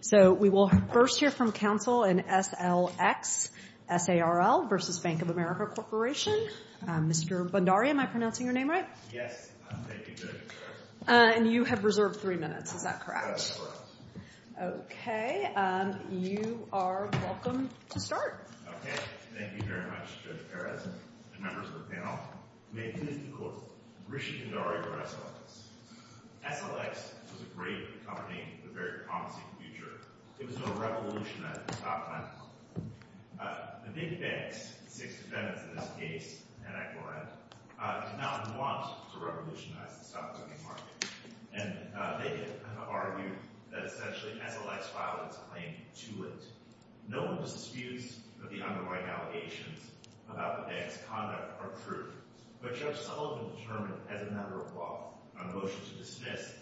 So, we will first hear from counsel in S.L.X. S.A.R.L. v. Bank Of America Corporation. Mr. Bondari, am I pronouncing your name right? Yes. And you have reserved three minutes. Is that correct? That's correct. Okay. You are welcome to start. Okay. Thank you very much, Judge Perez and members of the panel. May it please the Court, Rishi Bondari for S.L.X. S.L.X. was a great company with a very promising future. It was a revolution at the stock market. The big banks, the six defendants in this case, Ed Eckelrand, did not want to revolutionize the stock market, and they argued that essentially S.L.X. filed its claim to it. No one disputes that the underlying allegations about the bank's conduct are true, but Judge Sullivan determined, as a member of law, on a motion to dismiss,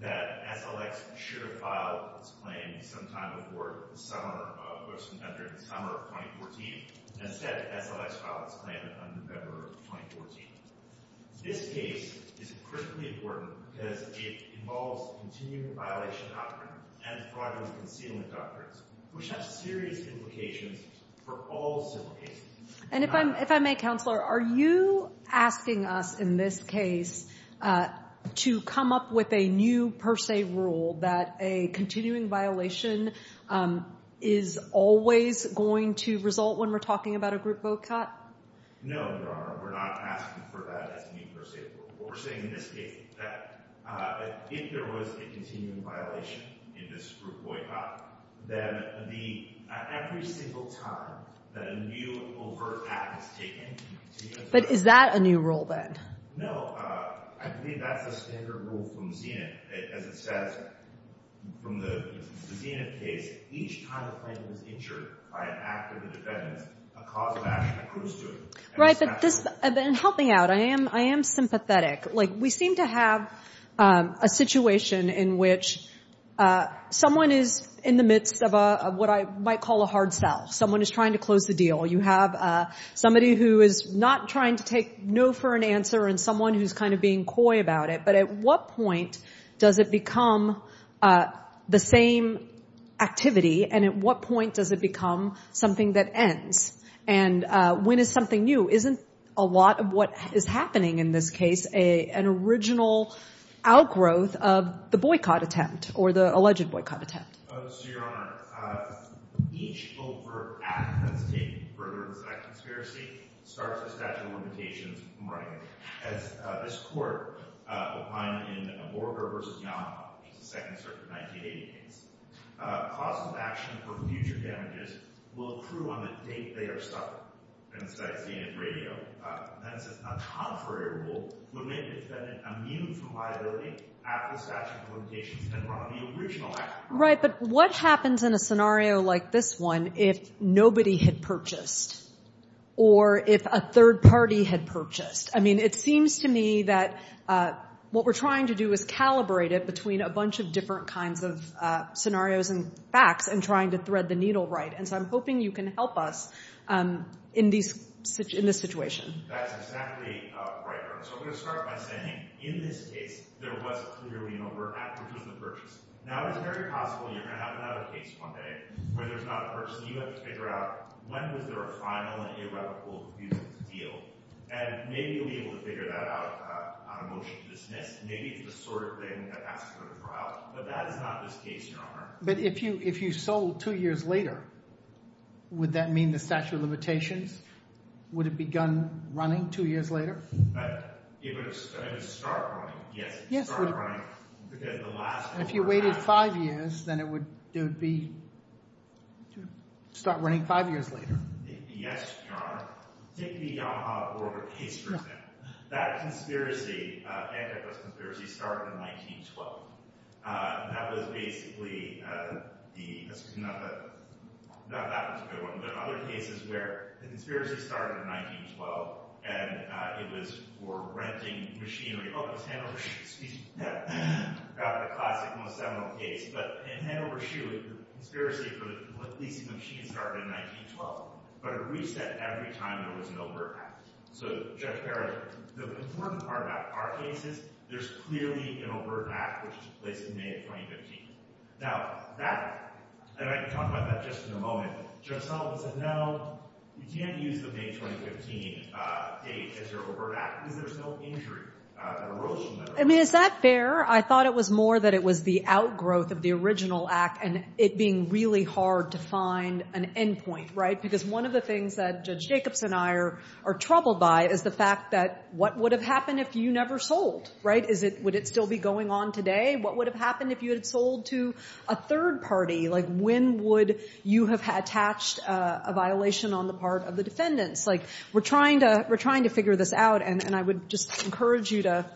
that S.L.X. should have filed its claim some time before the summer of 2014, and instead S.L.X. filed its claim in November of 2014. This case is critically important because it involves continuing violation of doctrine and fraudulent concealment doctrines, which have serious implications for all civil cases. And if I may, Counselor, are you asking us in this case to come up with a new per se rule that a continuing violation is always going to result when we're talking about a group boycott? No, Your Honor, we're not asking for that as a new per se rule. We're saying in this case that if there was a continuing violation in this group boycott, then every single time that a new overt act is taken— But is that a new rule, then? No, I believe that's a standard rule from Zenith, as it says from the Zenith case, each time a plaintiff is injured by an act of the defendant, a cause of action accrues to him. Right, but this—and help me out. I am sympathetic. Like, we seem to have a situation in which someone is in the midst of what I might call a hard sell. Someone is trying to close the deal. You have somebody who is not trying to take no for an answer and someone who's kind of being coy about it. But at what point does it become the same activity, and at what point does it become something that ends? And when is something new? Isn't a lot of what is happening in this case an original outgrowth of the boycott attempt or the alleged boycott attempt? So, Your Honor, each overt act that's taken for a group of sex conspiracy starts a statute of limitations from writing. As this court opined in Borger v. Yonhap, which is the Second Circuit 1980 case, causes of action for future damages will accrue on the date they are stuck, and as I've seen in radio, that is a contrary rule, would make the defendant immune from liability at the statute of limitations and run the original act. Right, but what happens in a scenario like this one if nobody had purchased or if a third party had purchased? I mean, it seems to me that what we're trying to do is calibrate it between a bunch of different kinds of scenarios and facts and trying to thread the needle right, and so I'm hoping you can help us in this situation. That's exactly right, Your Honor. So I'm going to start by saying, in this case, there was clearly an overt act, which was the purchase. Now, it's very possible you're going to have another case one day where there's not a purchase, and you have to figure out when was there a final and irrevocable deal. And maybe you'll be able to figure that out on a motion to dismiss. Maybe it's the sort of thing that asks for the trial, but that is not this case, Your Honor. But if you sold two years later, would that mean the statute of limitations would have begun running two years later? It would start running, yes. Yes, it would. It would start running, because the last... If you waited five years, then it would start running five years later. Yes, Your Honor. Take the Yamaha-Borger case, for example. That conspiracy, antitrust conspiracy, started in 1912. That was basically the... Not that one's a good one, but other cases where the conspiracy started in 1912, and it was for renting machinery. Oh, that was Hanover Shoe, excuse me. That's the classic, most seminal case. But in Hanover Shoe, the conspiracy for the leasing of machines started in 1912, but it reset every time there was an overt act. So, Judge Barrett, the important part about our case is there's clearly an overt act, which took place in May of 2015. Now, that... And I can talk about that just in a moment. Judge Sullivan said, no, you can't use the May 2015 date as your overt act, because there's no injury or erosion there. I mean, is that fair? I thought it was more that it was the outgrowth of the original act and it being really hard to find an endpoint, right? Because one of the things that Judge Jacobs and I are troubled by is the fact that what would have happened if you never sold, right? Would it still be going on today? What would have happened if you had sold to a third party? Like, when would you have attached a violation on the part of the defendants? Like, we're trying to figure this out, and I would just encourage you to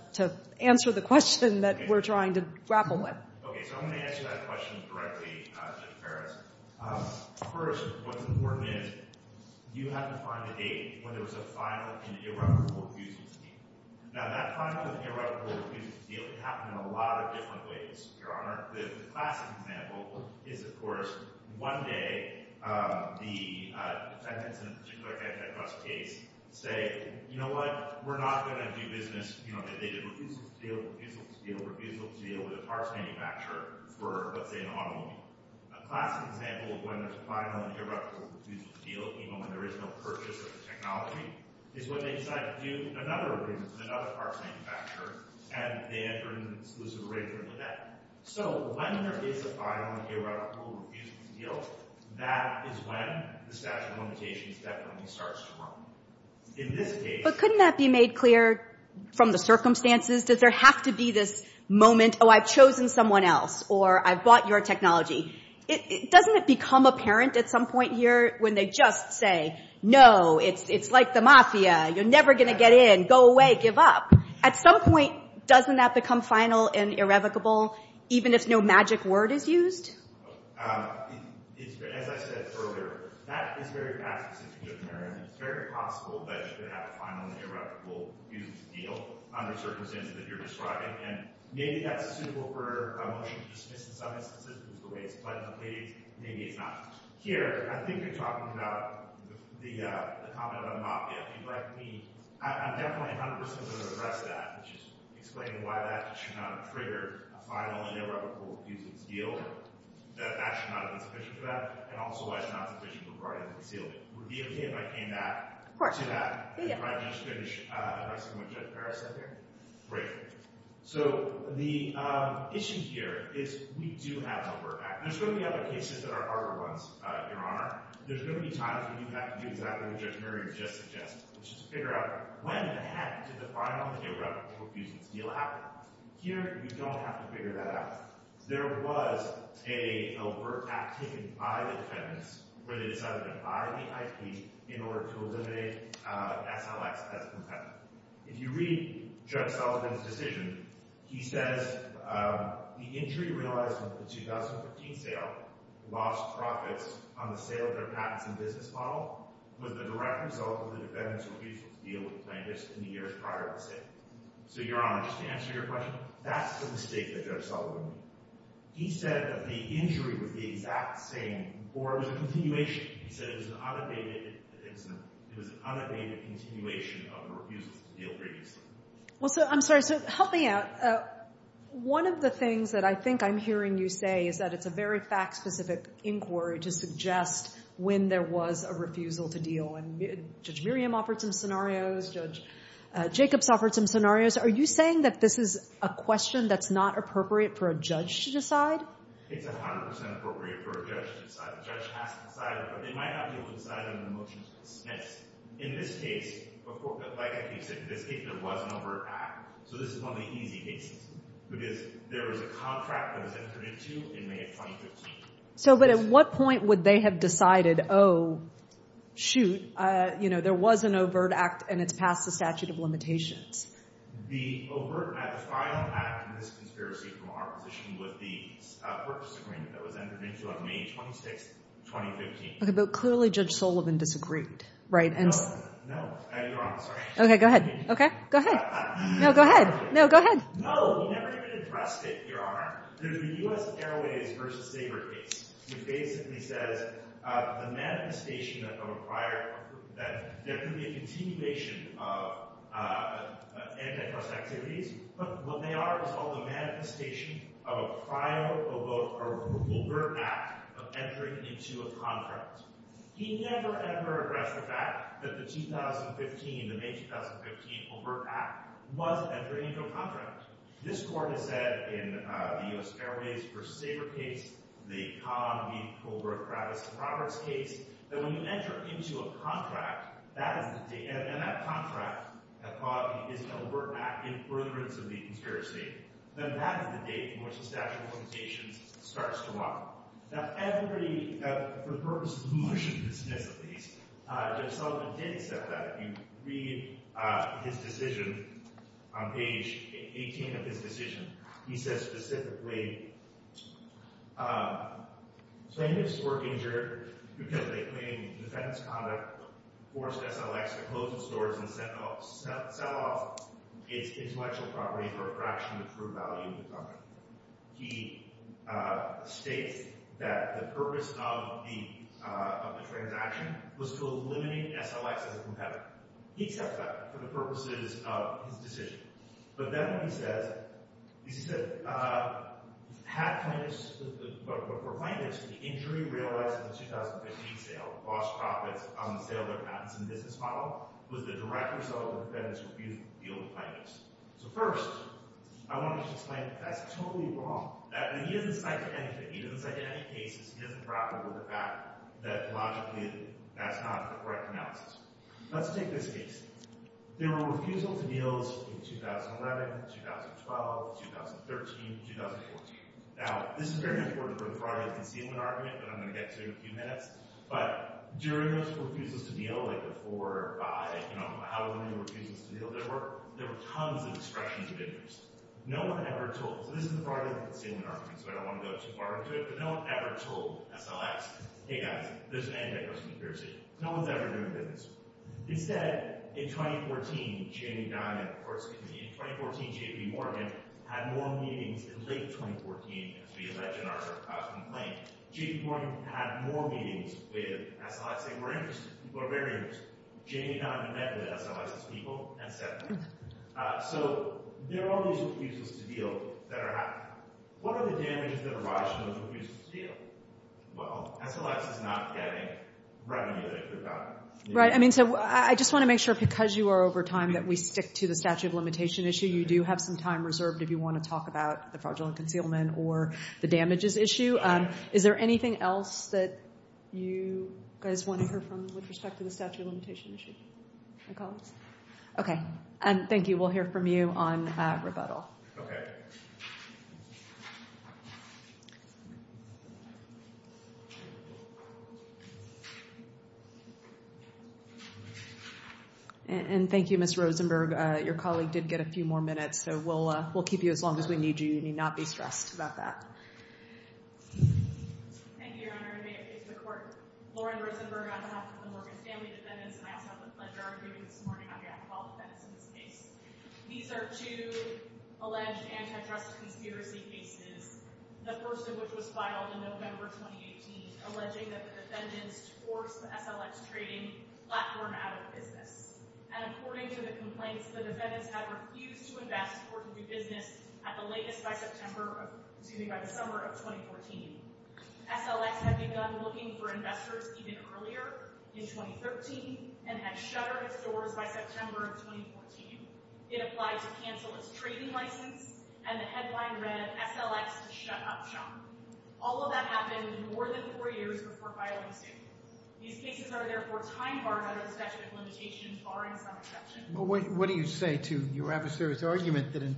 answer the question that we're trying to grapple with. Okay, so I'm going to answer that question directly, Judge Barrett. First, what's important is you had to find a date when there was a final and irreparable refusal to deal. Now, that final and irreparable refusal to deal happened in a lot of different ways, Your Honor. The classic example is, of course, one day the defendants in a particular case say, you know what, we're not going to do business. You know, they did refusal to deal, refusal to deal, refusal to deal with a parts manufacturer for, let's say, an automobile. A classic example of when there's a final and irreparable refusal to deal, even when there is no purchase of the technology, is when they decide to do another refusal to deal with another parts manufacturer, and they enter an exclusive arrangement with that. So when there is a final and irreparable refusal to deal, that is when the statute of limitations definitely starts to run. But couldn't that be made clear from the circumstances? Does there have to be this moment, oh, I've chosen someone else, or I've bought your technology. Doesn't it become apparent at some point here when they just say, no, it's like the mafia. You're never going to get in. Go away. Give up. At some point, doesn't that become final and irrevocable, even if no magic word is used? As I said earlier, that is very fast, Mr. Judge Barrett. And it's very possible that you could have a final and irrevocable refusal to deal under circumstances that you're describing. And maybe that's suitable for a motion to dismiss in some instances because of the way it's played. Maybe it's not. Here, I think you're talking about the comment about the mafia. And frankly, I'm definitely 100% going to address that, which is explaining why that should not trigger a final and irrevocable refusal to deal, that that should not have been sufficient for that, and also why it's not sufficient for writing the seal. Would it be OK if I came back to that? Of course. Yeah, yeah. Before I just finish addressing what Judge Barrett said here? Great. So the issue here is we do have an overt act. And there's going to be other cases that are harder ones, Your Honor. There's going to be times when you have to do exactly what Judge Murray just suggested, which is figure out when the heck did the final and irrevocable refusal to deal happen. Here, you don't have to figure that out. There was an overt act taken by the defendants where they decided to buy the IP in order to eliminate SLX as a competitor. If you read Judge Sullivan's decision, he says, the injury realized with the 2014 sale lost profits on the sale of their patents and business model was the direct result of the defendants' refusal to deal with plaintiffs in the years prior to the sale. So, Your Honor, just to answer your question, that's the mistake that Judge Sullivan made. He said that the injury was the exact same, or it was a continuation. He said it was an unabated continuation of the refusal to deal previously. Well, I'm sorry. So help me out. One of the things that I think I'm hearing you say is that it's a very fact-specific inquiry to suggest when there was a refusal to deal. And Judge Miriam offered some scenarios. Judge Jacobs offered some scenarios. Are you saying that this is a question that's not appropriate for a judge to decide? It's 100% appropriate for a judge to decide. A judge has to decide. They might not be able to decide on a motion to dismiss. In this case, like I keep saying, in this case there was an overt act. So this is one of the easy cases because there was a contract that was entered into in May of 2015. So, but at what point would they have decided, oh, shoot, you know, there was an overt act and it's passed the statute of limitations? The overt act, the final act in this conspiracy from our position was the purchase agreement that was entered into on May 26, 2015. OK, but clearly Judge Sullivan disagreed, right? No, no. Your Honor, sorry. OK, go ahead. OK, go ahead. No, go ahead. No, go ahead. No, he never even addressed it, Your Honor. There's the U.S. Airways v. Sabre case, which basically says the manifestation of a prior, that there could be a continuation of antitrust activities, but what they are is called the manifestation of a prior overt act of entering into a contract. He never, ever addressed the fact that the 2015, the May 2015 overt act was entering into a contract. This Court has said in the U.S. Airways v. Sabre case, the Conn v. Colbert, Kravis v. Roberts case, that when you enter into a contract, that is the date, and that contract is an overt act in furtherance of the conspiracy, then that is the date in which the statute of limitations starts to run. Now, everybody, for the purpose of motion to dismiss the case, Judge Sullivan did accept that. You read his decision on page 18 of his decision. He says specifically, plaintiffs were injured because they claimed defendant's conduct forced SLX to close its doors and sell off its intellectual property for a fraction of the true value of the property. He states that the purpose of the transaction was to eliminate SLX as a competitor. He accepts that for the purposes of his decision. But then he says, he said, for plaintiffs, the injury realized in the 2015 sale, lost profits on the sale of their patents in the business model, was the direct result of defendants' refusal to deal with plaintiffs. So first, I want to explain that that's totally wrong. He doesn't cite anything. He doesn't cite any cases. He doesn't grapple with the fact that logically that's not a correct analysis. Let's take this case. There were refusals to deals in 2011, 2012, 2013, 2014. Now, this is very important for the fraud and concealment argument that I'm going to get to in a few minutes. But during those refusals to deal, like before by, you know, how many refusals to deal there were, there were tons of expressions of interest. No one ever told. So this is the fraud and concealment argument, so I don't want to go too far into it. But no one ever told SLX, hey, guys, there's an antitrust conspiracy. No one's ever done this. Instead, in 2014, Jamie Dimon, or excuse me, in 2014, J.P. Morgan, had more meetings in late 2014 as we allege in our complaint. J.P. Morgan had more meetings with SLX. They were interested. People were very interested. Jamie Dimon had met with SLX's people and said that. So there are all these refusals to deal that are happening. What are the damages that arise from those refusals to deal? Well, SLX is not getting revenue that it could have gotten. Right. I mean, so I just want to make sure, because you are over time, that we stick to the statute of limitation issue. You do have some time reserved if you want to talk about the fraudulent concealment or the damages issue. Is there anything else that you guys want to hear from with respect to the statute of limitation issue? My colleagues? Okay. Thank you. We'll hear from you on rebuttal. Okay. And thank you, Ms. Rosenberg. Your colleague did get a few more minutes, so we'll keep you as long as we need you. You need not be stressed about that. Thank you, Your Honor. And may it please the Court. Lauren Rosenberg on behalf of the Morgan Stanley defendants. And I also have the pleasure of giving this morning on behalf of all defendants in this case. These are two alleged antitrust conspiracy cases, the first of which was filed in November 2018, alleging that the defendants forced the SLX trading platform out of business. And according to the complaints, the defendants had refused to invest or do business at the latest by the summer of 2014. SLX had begun looking for investors even earlier, in 2013, and had shuttered its doors by September of 2014. It applied to cancel its trading license, and the headline read, SLX to shut up shop. All of that happened more than four years before filing this case. These cases are therefore time-barred under the statute of limitations, barring some exceptions. What do you say to your adversaries' argument that in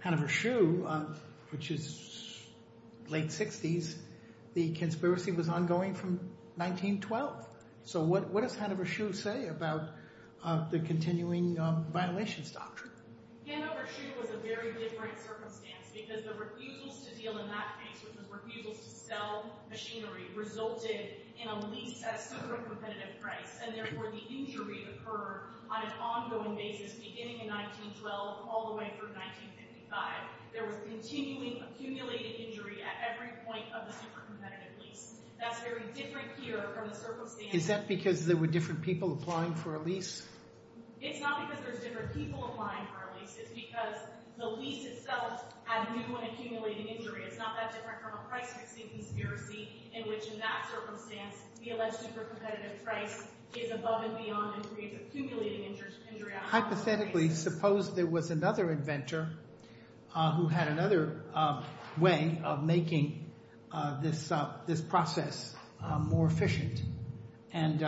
Hanover Shoe, which is late 60s, the conspiracy was ongoing from 1912? So what does Hanover Shoe say about the continuing violations doctrine? Hanover Shoe was a very different circumstance, because the refusals to deal in that case, which was refusals to sell machinery, resulted in a lease at a super-competitive price, and therefore the injury occurred on an ongoing basis beginning in 1912 all the way through 1955. There was continually accumulated injury at every point of the super-competitive lease. That's very different here from the circumstance— Is that because there were different people applying for a lease? It's not because there's different people applying for a lease. It's because the lease itself had new and accumulating injury. It's not that different from a price-fixing conspiracy in which, in that circumstance, the alleged super-competitive price is above and beyond and creates accumulating injury. Hypothetically, suppose there was another inventor who had another way of making this process more efficient and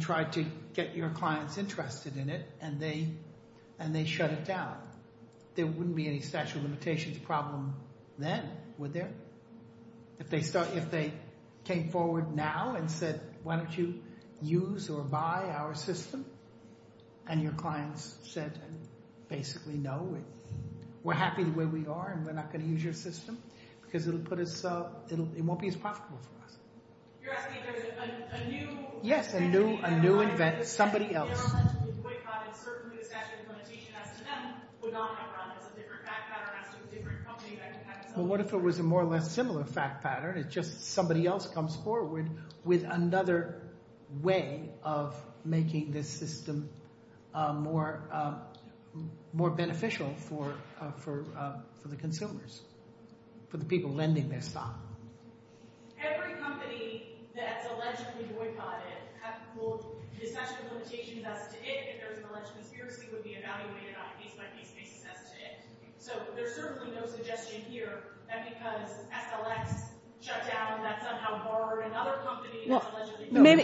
tried to get your clients interested in it, and they shut it down. There wouldn't be any statute of limitations problem then, would there? If they came forward now and said, why don't you use or buy our system, and your clients said basically no, we're happy the way we are, and we're not going to use your system, because it won't be as profitable for us. You're asking if there was a new— Yes, a new inventor, somebody else. —and certainly the statute of limitations, as to them, would not have run as a different fact pattern as to a different company that had a different— Well, what if it was a more or less similar fact pattern? It's just somebody else comes forward with another way of making this system more beneficial for the consumers, for the people lending their stock. Every company that's allegedly boycotted will— the statute of limitations as to it, if there's an alleged conspiracy, would be evaluated on a case-by-case basis as to it. So there's certainly no suggestion here that because SLX shut down, that somehow borrowed another company that's allegedly boycotted—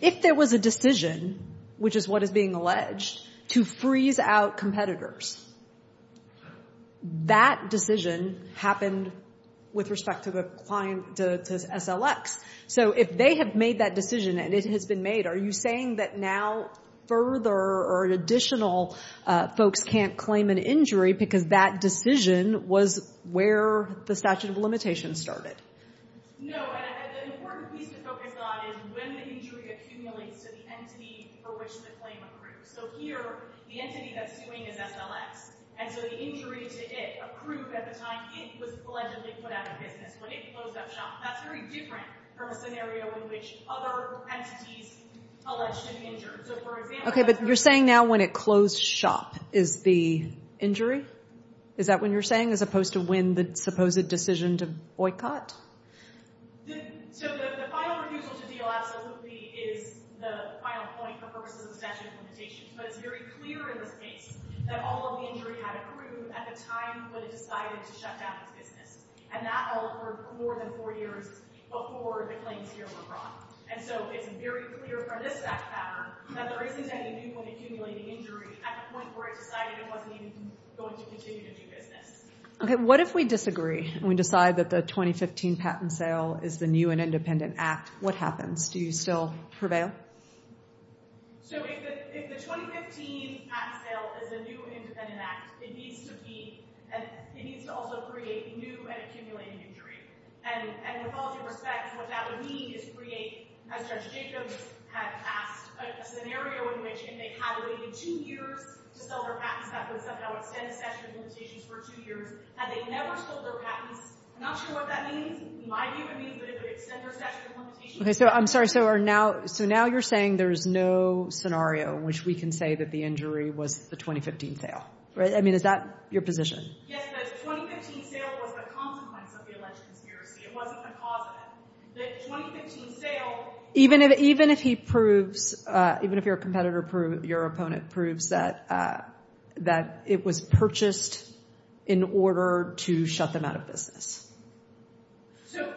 If there was a decision, which is what is being alleged, to freeze out competitors, that decision happened with respect to the client, to SLX. So if they have made that decision, and it has been made, are you saying that now further or additional folks can't claim an injury because that decision was where the statute of limitations started? No, and an important piece to focus on is when the injury accumulates to the entity for which the claim accrues. So here, the entity that's suing is SLX. And so the injury to it, accrued at the time it was allegedly put out of business, when it closed up shop, that's very different from a scenario in which other entities alleged to be injured. Okay, but you're saying now when it closed shop is the injury? Is that what you're saying, as opposed to when the supposed decision to boycott? So the final refusal to deal absolutely is the final point for purposes of the statute of limitations. But it's very clear in this case that all of the injury had accrued at the time when it decided to shut down its business. And that all occurred for more than four years before the claims here were brought. And so it's very clear from this fact pattern that there isn't any new point accumulating injury at the point where it decided it wasn't even going to continue to do business. Okay, what if we disagree and we decide that the 2015 patent sale is the new and independent act? What happens? Do you still prevail? So if the 2015 patent sale is the new independent act, it needs to also create new and accumulating injury. And with all due respect, what that would mean is create, as Judge Jacobs had asked, a scenario in which if they had waited two years to sell their patents, that would somehow extend the statute of limitations for two years. Had they never sold their patents, I'm not sure what that means. It might be what it means, but it would extend their statute of limitations. Okay, so I'm sorry. So now you're saying there's no scenario in which we can say that the injury was the 2015 sale? I mean, is that your position? Yes, the 2015 sale was the consequence of the alleged conspiracy. It wasn't the cause of it. Even if he proves, even if your competitor proves, your opponent proves, that it was purchased in order to shut them out of business? So,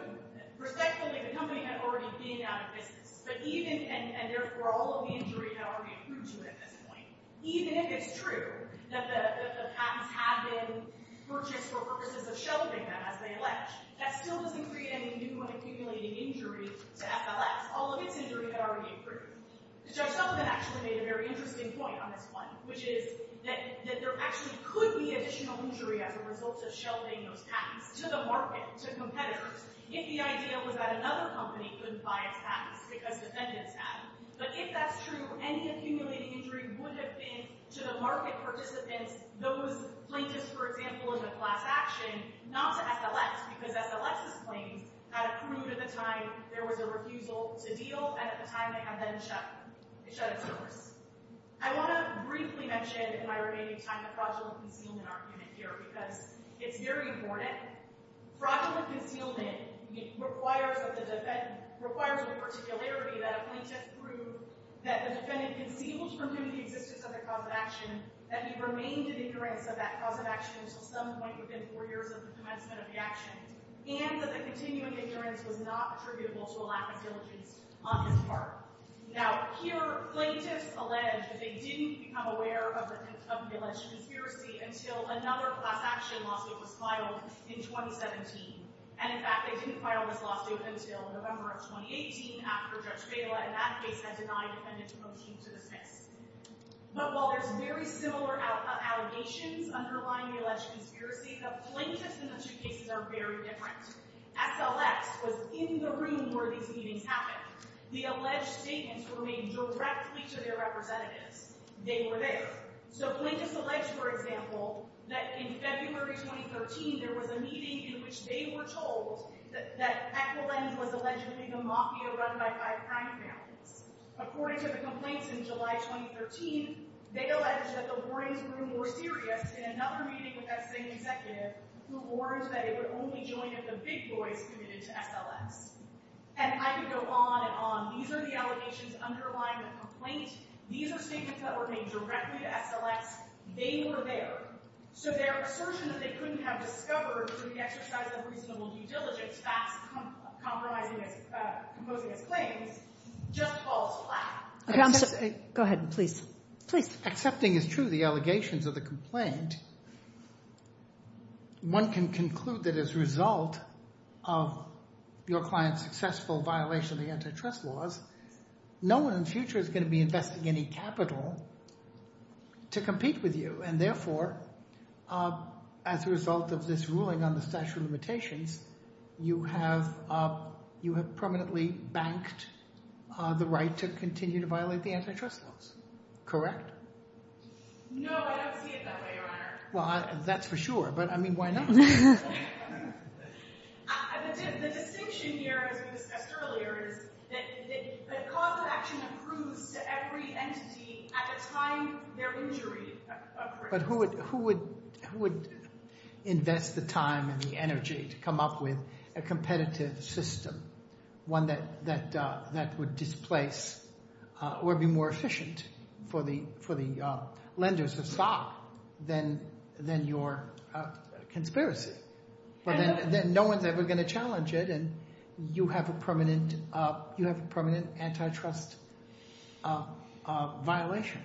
respectfully, the company had already been out of business, and therefore all of the injury had already been proved to at this point. Even if it's true that the patents had been purchased for purposes of shelving them as they allege, that still doesn't create any new unaccumulating injury to SLS. All of its injury had already been proved. Judge Sullivan actually made a very interesting point on this one, which is that there actually could be additional injury as a result of shelving those patents to the market, to competitors, if the idea was that another company couldn't buy its patents because defendants had them. But if that's true, any accumulating injury would have been to the market participants, those plaintiffs, for example, in the class action, not to SLS, because SLS's claims had proved at the time there was a refusal to deal, and at the time they had then shut its doors. I want to briefly mention in my remaining time the fraudulent concealment argument here, because it's very important. Fraudulent concealment requires a particularity that a plaintiff proved that the defendant had concealed from him the existence of their cause of action, that he remained in ignorance of that cause of action until some point within four years of the commencement of the action, and that the continuing ignorance was not attributable to a lack of diligence on his part. Now, here, plaintiffs allege that they didn't become aware of the alleged conspiracy until another class action lawsuit was filed in 2017. And in fact, they didn't file this lawsuit until November of 2018, after Judge Baila, in that case, had denied the defendant's motive to dismiss. But while there's very similar allegations underlying the alleged conspiracy, the plaintiffs in the two cases are very different. SLS was in the room where these meetings happened. The alleged statements were made directly to their representatives. They were there. So plaintiffs allege, for example, that in February 2013, there was a meeting in which they were told that Echolens was allegedly the mafia run by five crime families. According to the complaints in July 2013, they alleged that the warnings grew more serious in another meeting with that same executive, who warned that it would only join if the big boys committed to SLS. And I could go on and on. These are the allegations underlying the complaint. These are statements that were made directly to SLS. They were there. So their assertion that they couldn't have discovered through the exercise of reasonable due diligence, facts composing its claims, just falls flat. Go ahead, please. Accepting as true the allegations of the complaint, one can conclude that as a result of your client's successful violation of the antitrust laws, no one in the future is going to be investing any capital to compete with you. And therefore, as a result of this ruling on the statute of limitations, you have permanently banked the right to continue to violate the antitrust laws. Correct? No, I don't see it that way, Your Honor. Well, that's for sure, but I mean, why not? The distinction here, as we discussed earlier, is that cost of action accrues to every entity at the time their injury occurs. But who would invest the time and the energy to come up with a competitive system, one that would displace or be more efficient for the lenders of stock than your conspiracy? Then no one's ever going to challenge it, and you have a permanent antitrust violation.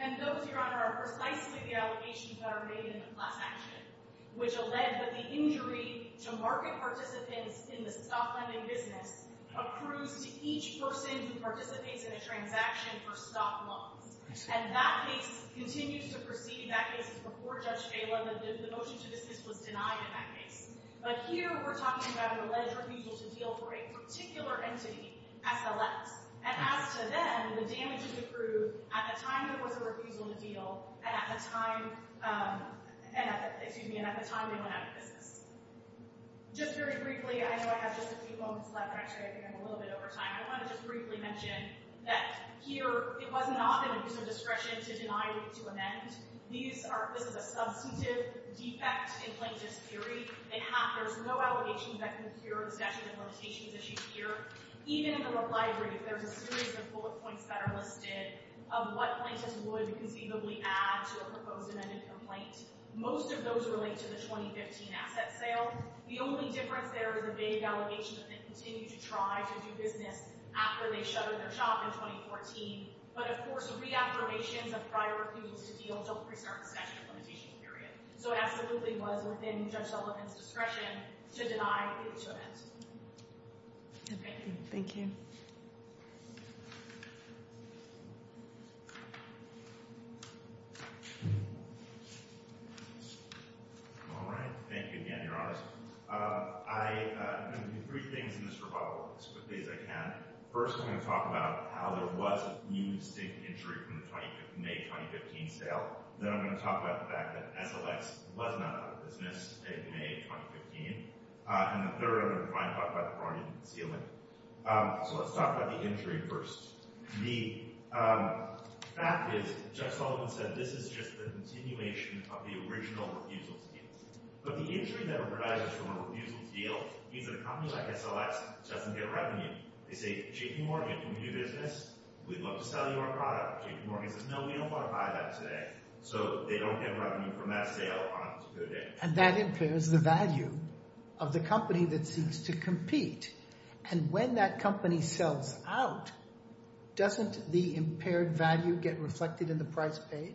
And those, Your Honor, are precisely the allegations that are made in the class action, which allege that the injury to market participants in the stock lending business accrues to each person who participates in a transaction for stock loans. And that case continues to proceed. That case is before Judge Phelan. The motion to desist was denied in that case. But here we're talking about an alleged refusal to deal for a particular entity, SLS. And as to them, the damages accrue at the time there was a refusal to deal and at the time they went out of business. Just very briefly, I know I have just a few moments left, and actually I think I'm a little bit over time, I want to just briefly mention that here it was not an abuse of discretion to deny or to amend. This is a substantive defect in plaintiff's theory. There's no allegations that can cure discretion and limitations issues here. Even in the library, there's a series of bullet points that are listed of what plaintiffs would conceivably add to a proposed amended complaint. Most of those relate to the 2015 asset sale. The only difference there is a vague allegation that they continued to try to do business after they shuttered their shop in 2014. But, of course, reaffirmations of prior refusals to deal don't restart the statute of limitations period. So it absolutely was within Judge Sullivan's discretion to deny or to amend. Thank you. All right. Thank you again, Your Honor. I'm going to do three things in this rebuttal, as quickly as I can. First, I'm going to talk about how there was a new distinct injury from the May 2015 sale. Then I'm going to talk about the fact that SLX was not out of business in May 2015. And the third, I'm going to talk about the fraudulent concealing. So let's talk about the injury first. The fact is, Judge Sullivan said this is just the continuation of the original refusals deal. But the injury that arises from a refusals deal means that a company like SLX doesn't get revenue. They say, JP Morgan, when we do business, we'd love to sell you our product. JP Morgan says, no, we don't want to buy that today. So they don't get revenue from that sale on a particular day. And that impairs the value of the company that seeks to compete. And when that company sells out, doesn't the impaired value get reflected in the price paid?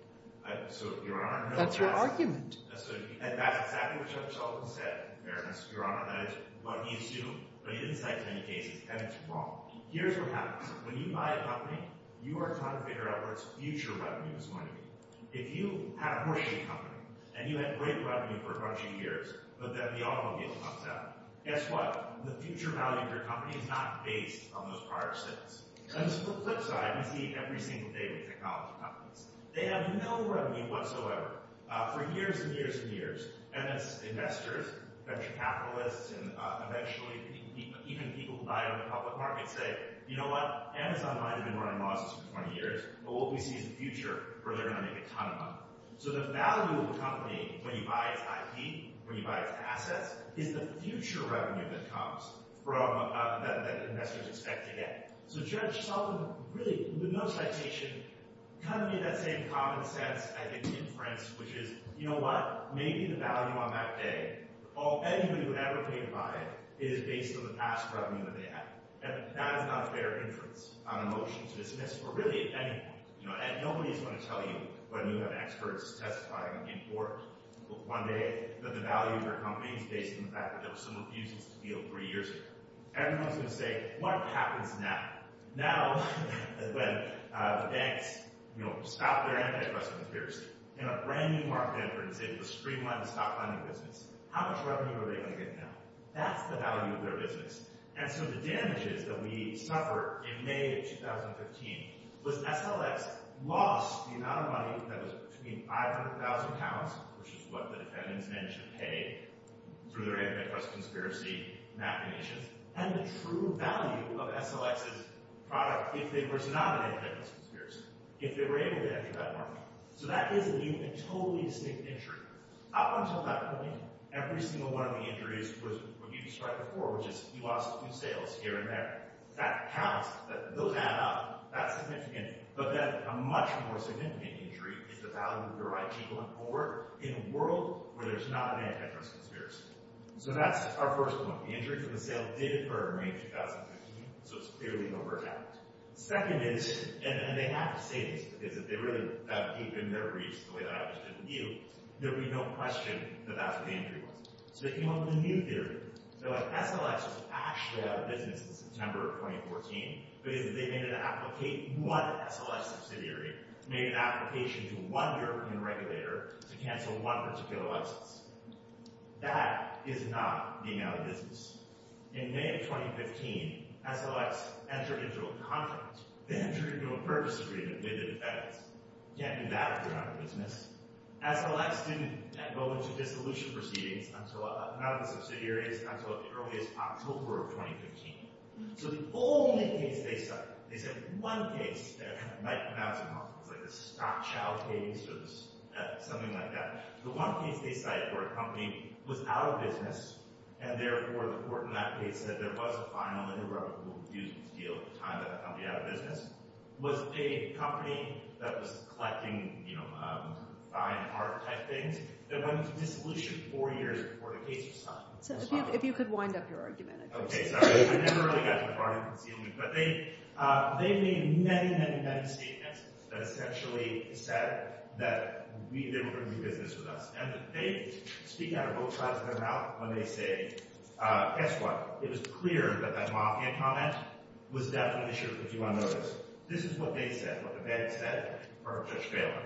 So, Your Honor, no. That's your argument. That's exactly what Judge Sullivan said, Your Honor. That is what he assumed. But he didn't cite any cases. And it's wrong. Here's what happens. When you buy a company, you are trying to figure out what its future revenue is going to be. If you had a horseshoe company and you had great revenue for a bunch of years, but then the automobile comes out, guess what? The future value of your company is not based on those prior sales. On the flip side, we see every single day with technology companies. They have no revenue whatsoever. For years and years and years. And as investors, venture capitalists, and eventually even people who buy on the public market say, you know what? Amazon might have been running losses for 20 years, but what we see is the future where they're going to make a ton of money. So the value of a company when you buy its IP, when you buy its assets, is the future revenue that comes from that investors expect to get. So Judge Sullivan, really, with no citation, kind of made that same common sense inference, which is, you know what? Maybe the value on that day of anybody who ever paid by it is based on the past revenue that they have. And that is not a fair inference on a motion to dismiss or really at any point. And nobody is going to tell you when you have experts testifying in court one day that the value of your company is based on the fact that there were some abuses in the field three years ago. Everyone is going to say, what happens now? Now, when the banks, you know, stop their anti-trust conspiracy in a brand new market effort and say, let's streamline the stock lending business. How much revenue are they going to get now? That's the value of their business. And so the damages that we suffered in May of 2015 was SLX lost the amount of money that was between 500,000 pounds, which is what the defendants managed to pay through their anti-trust conspiracy mapping issues, and the true value of SLX's product if they were not an anti-trust conspiracy, if they were able to enter that market. So that is a new and totally distinct injury. Up until that point, every single one of the injuries was what you described before, which is you lost two sales here and there. That counts. Those add up. That's significant. But then a much more significant injury is the value of your IT going forward in a world where there's not an anti-trust conspiracy. So that's our first one. The injury from the sale did occur in May of 2015. So it's clearly over and out. And they have to say this because if they really have deepened their reach the way that I just did with you, there would be no question that that's what the injury was. So they came up with a new theory. They're like, SLX was actually out of business in September of 2014 because they made an application to one SLX subsidiary, made an application to one European regulator to cancel one particular license. That is not the amount of business. In May of 2015, SLX entered into a contract. They entered into a purchase agreement with the defendants. You can't do that if you're out of business. SLX didn't go into dissolution proceedings, none of the subsidiaries, until as early as October of 2015. So the only case they cite is the one case that might come out as a stock child case or something like that. The one case they cite where a company was out of business and, therefore, the court in that case said there was a final interoperable dues deal at the time that the company was out of business, was a company that was collecting fine art-type things that went into dissolution four years before the case was signed. So if you could wind up your argument. Okay, sorry. I never really got to the heart of the concealment. But they made many, many, many statements that essentially said that they were going to do business with us. And they speak out of both sides of their mouth when they say, guess what? It was clear that that Moffatt comment was definitely an issue of the juvenile notice. This is what they said, what the defendants said, for a judge bailing.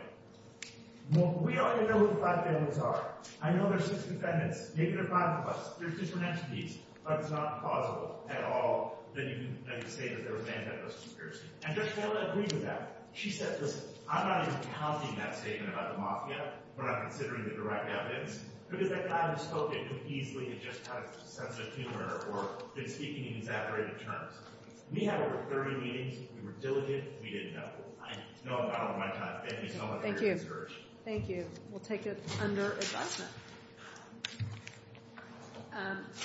Well, we already know who the black bailiffs are. I know there are six defendants, maybe there are five of us. There's different entities. But it's not plausible at all that you can say that there was an antitrust conspiracy. And Judge Taylor agreed with that. She said, listen, I'm not even counting that statement about the Mafia. We're not considering the direct evidence. Because that guy who spoke it could easily have just had a sense of humor or been speaking in exaggerated terms. We had over 30 meetings. We were diligent. We didn't know. I know I'm out of my time. Thank you so much for your research. Thank you. Thank you. We'll take it under adjustment.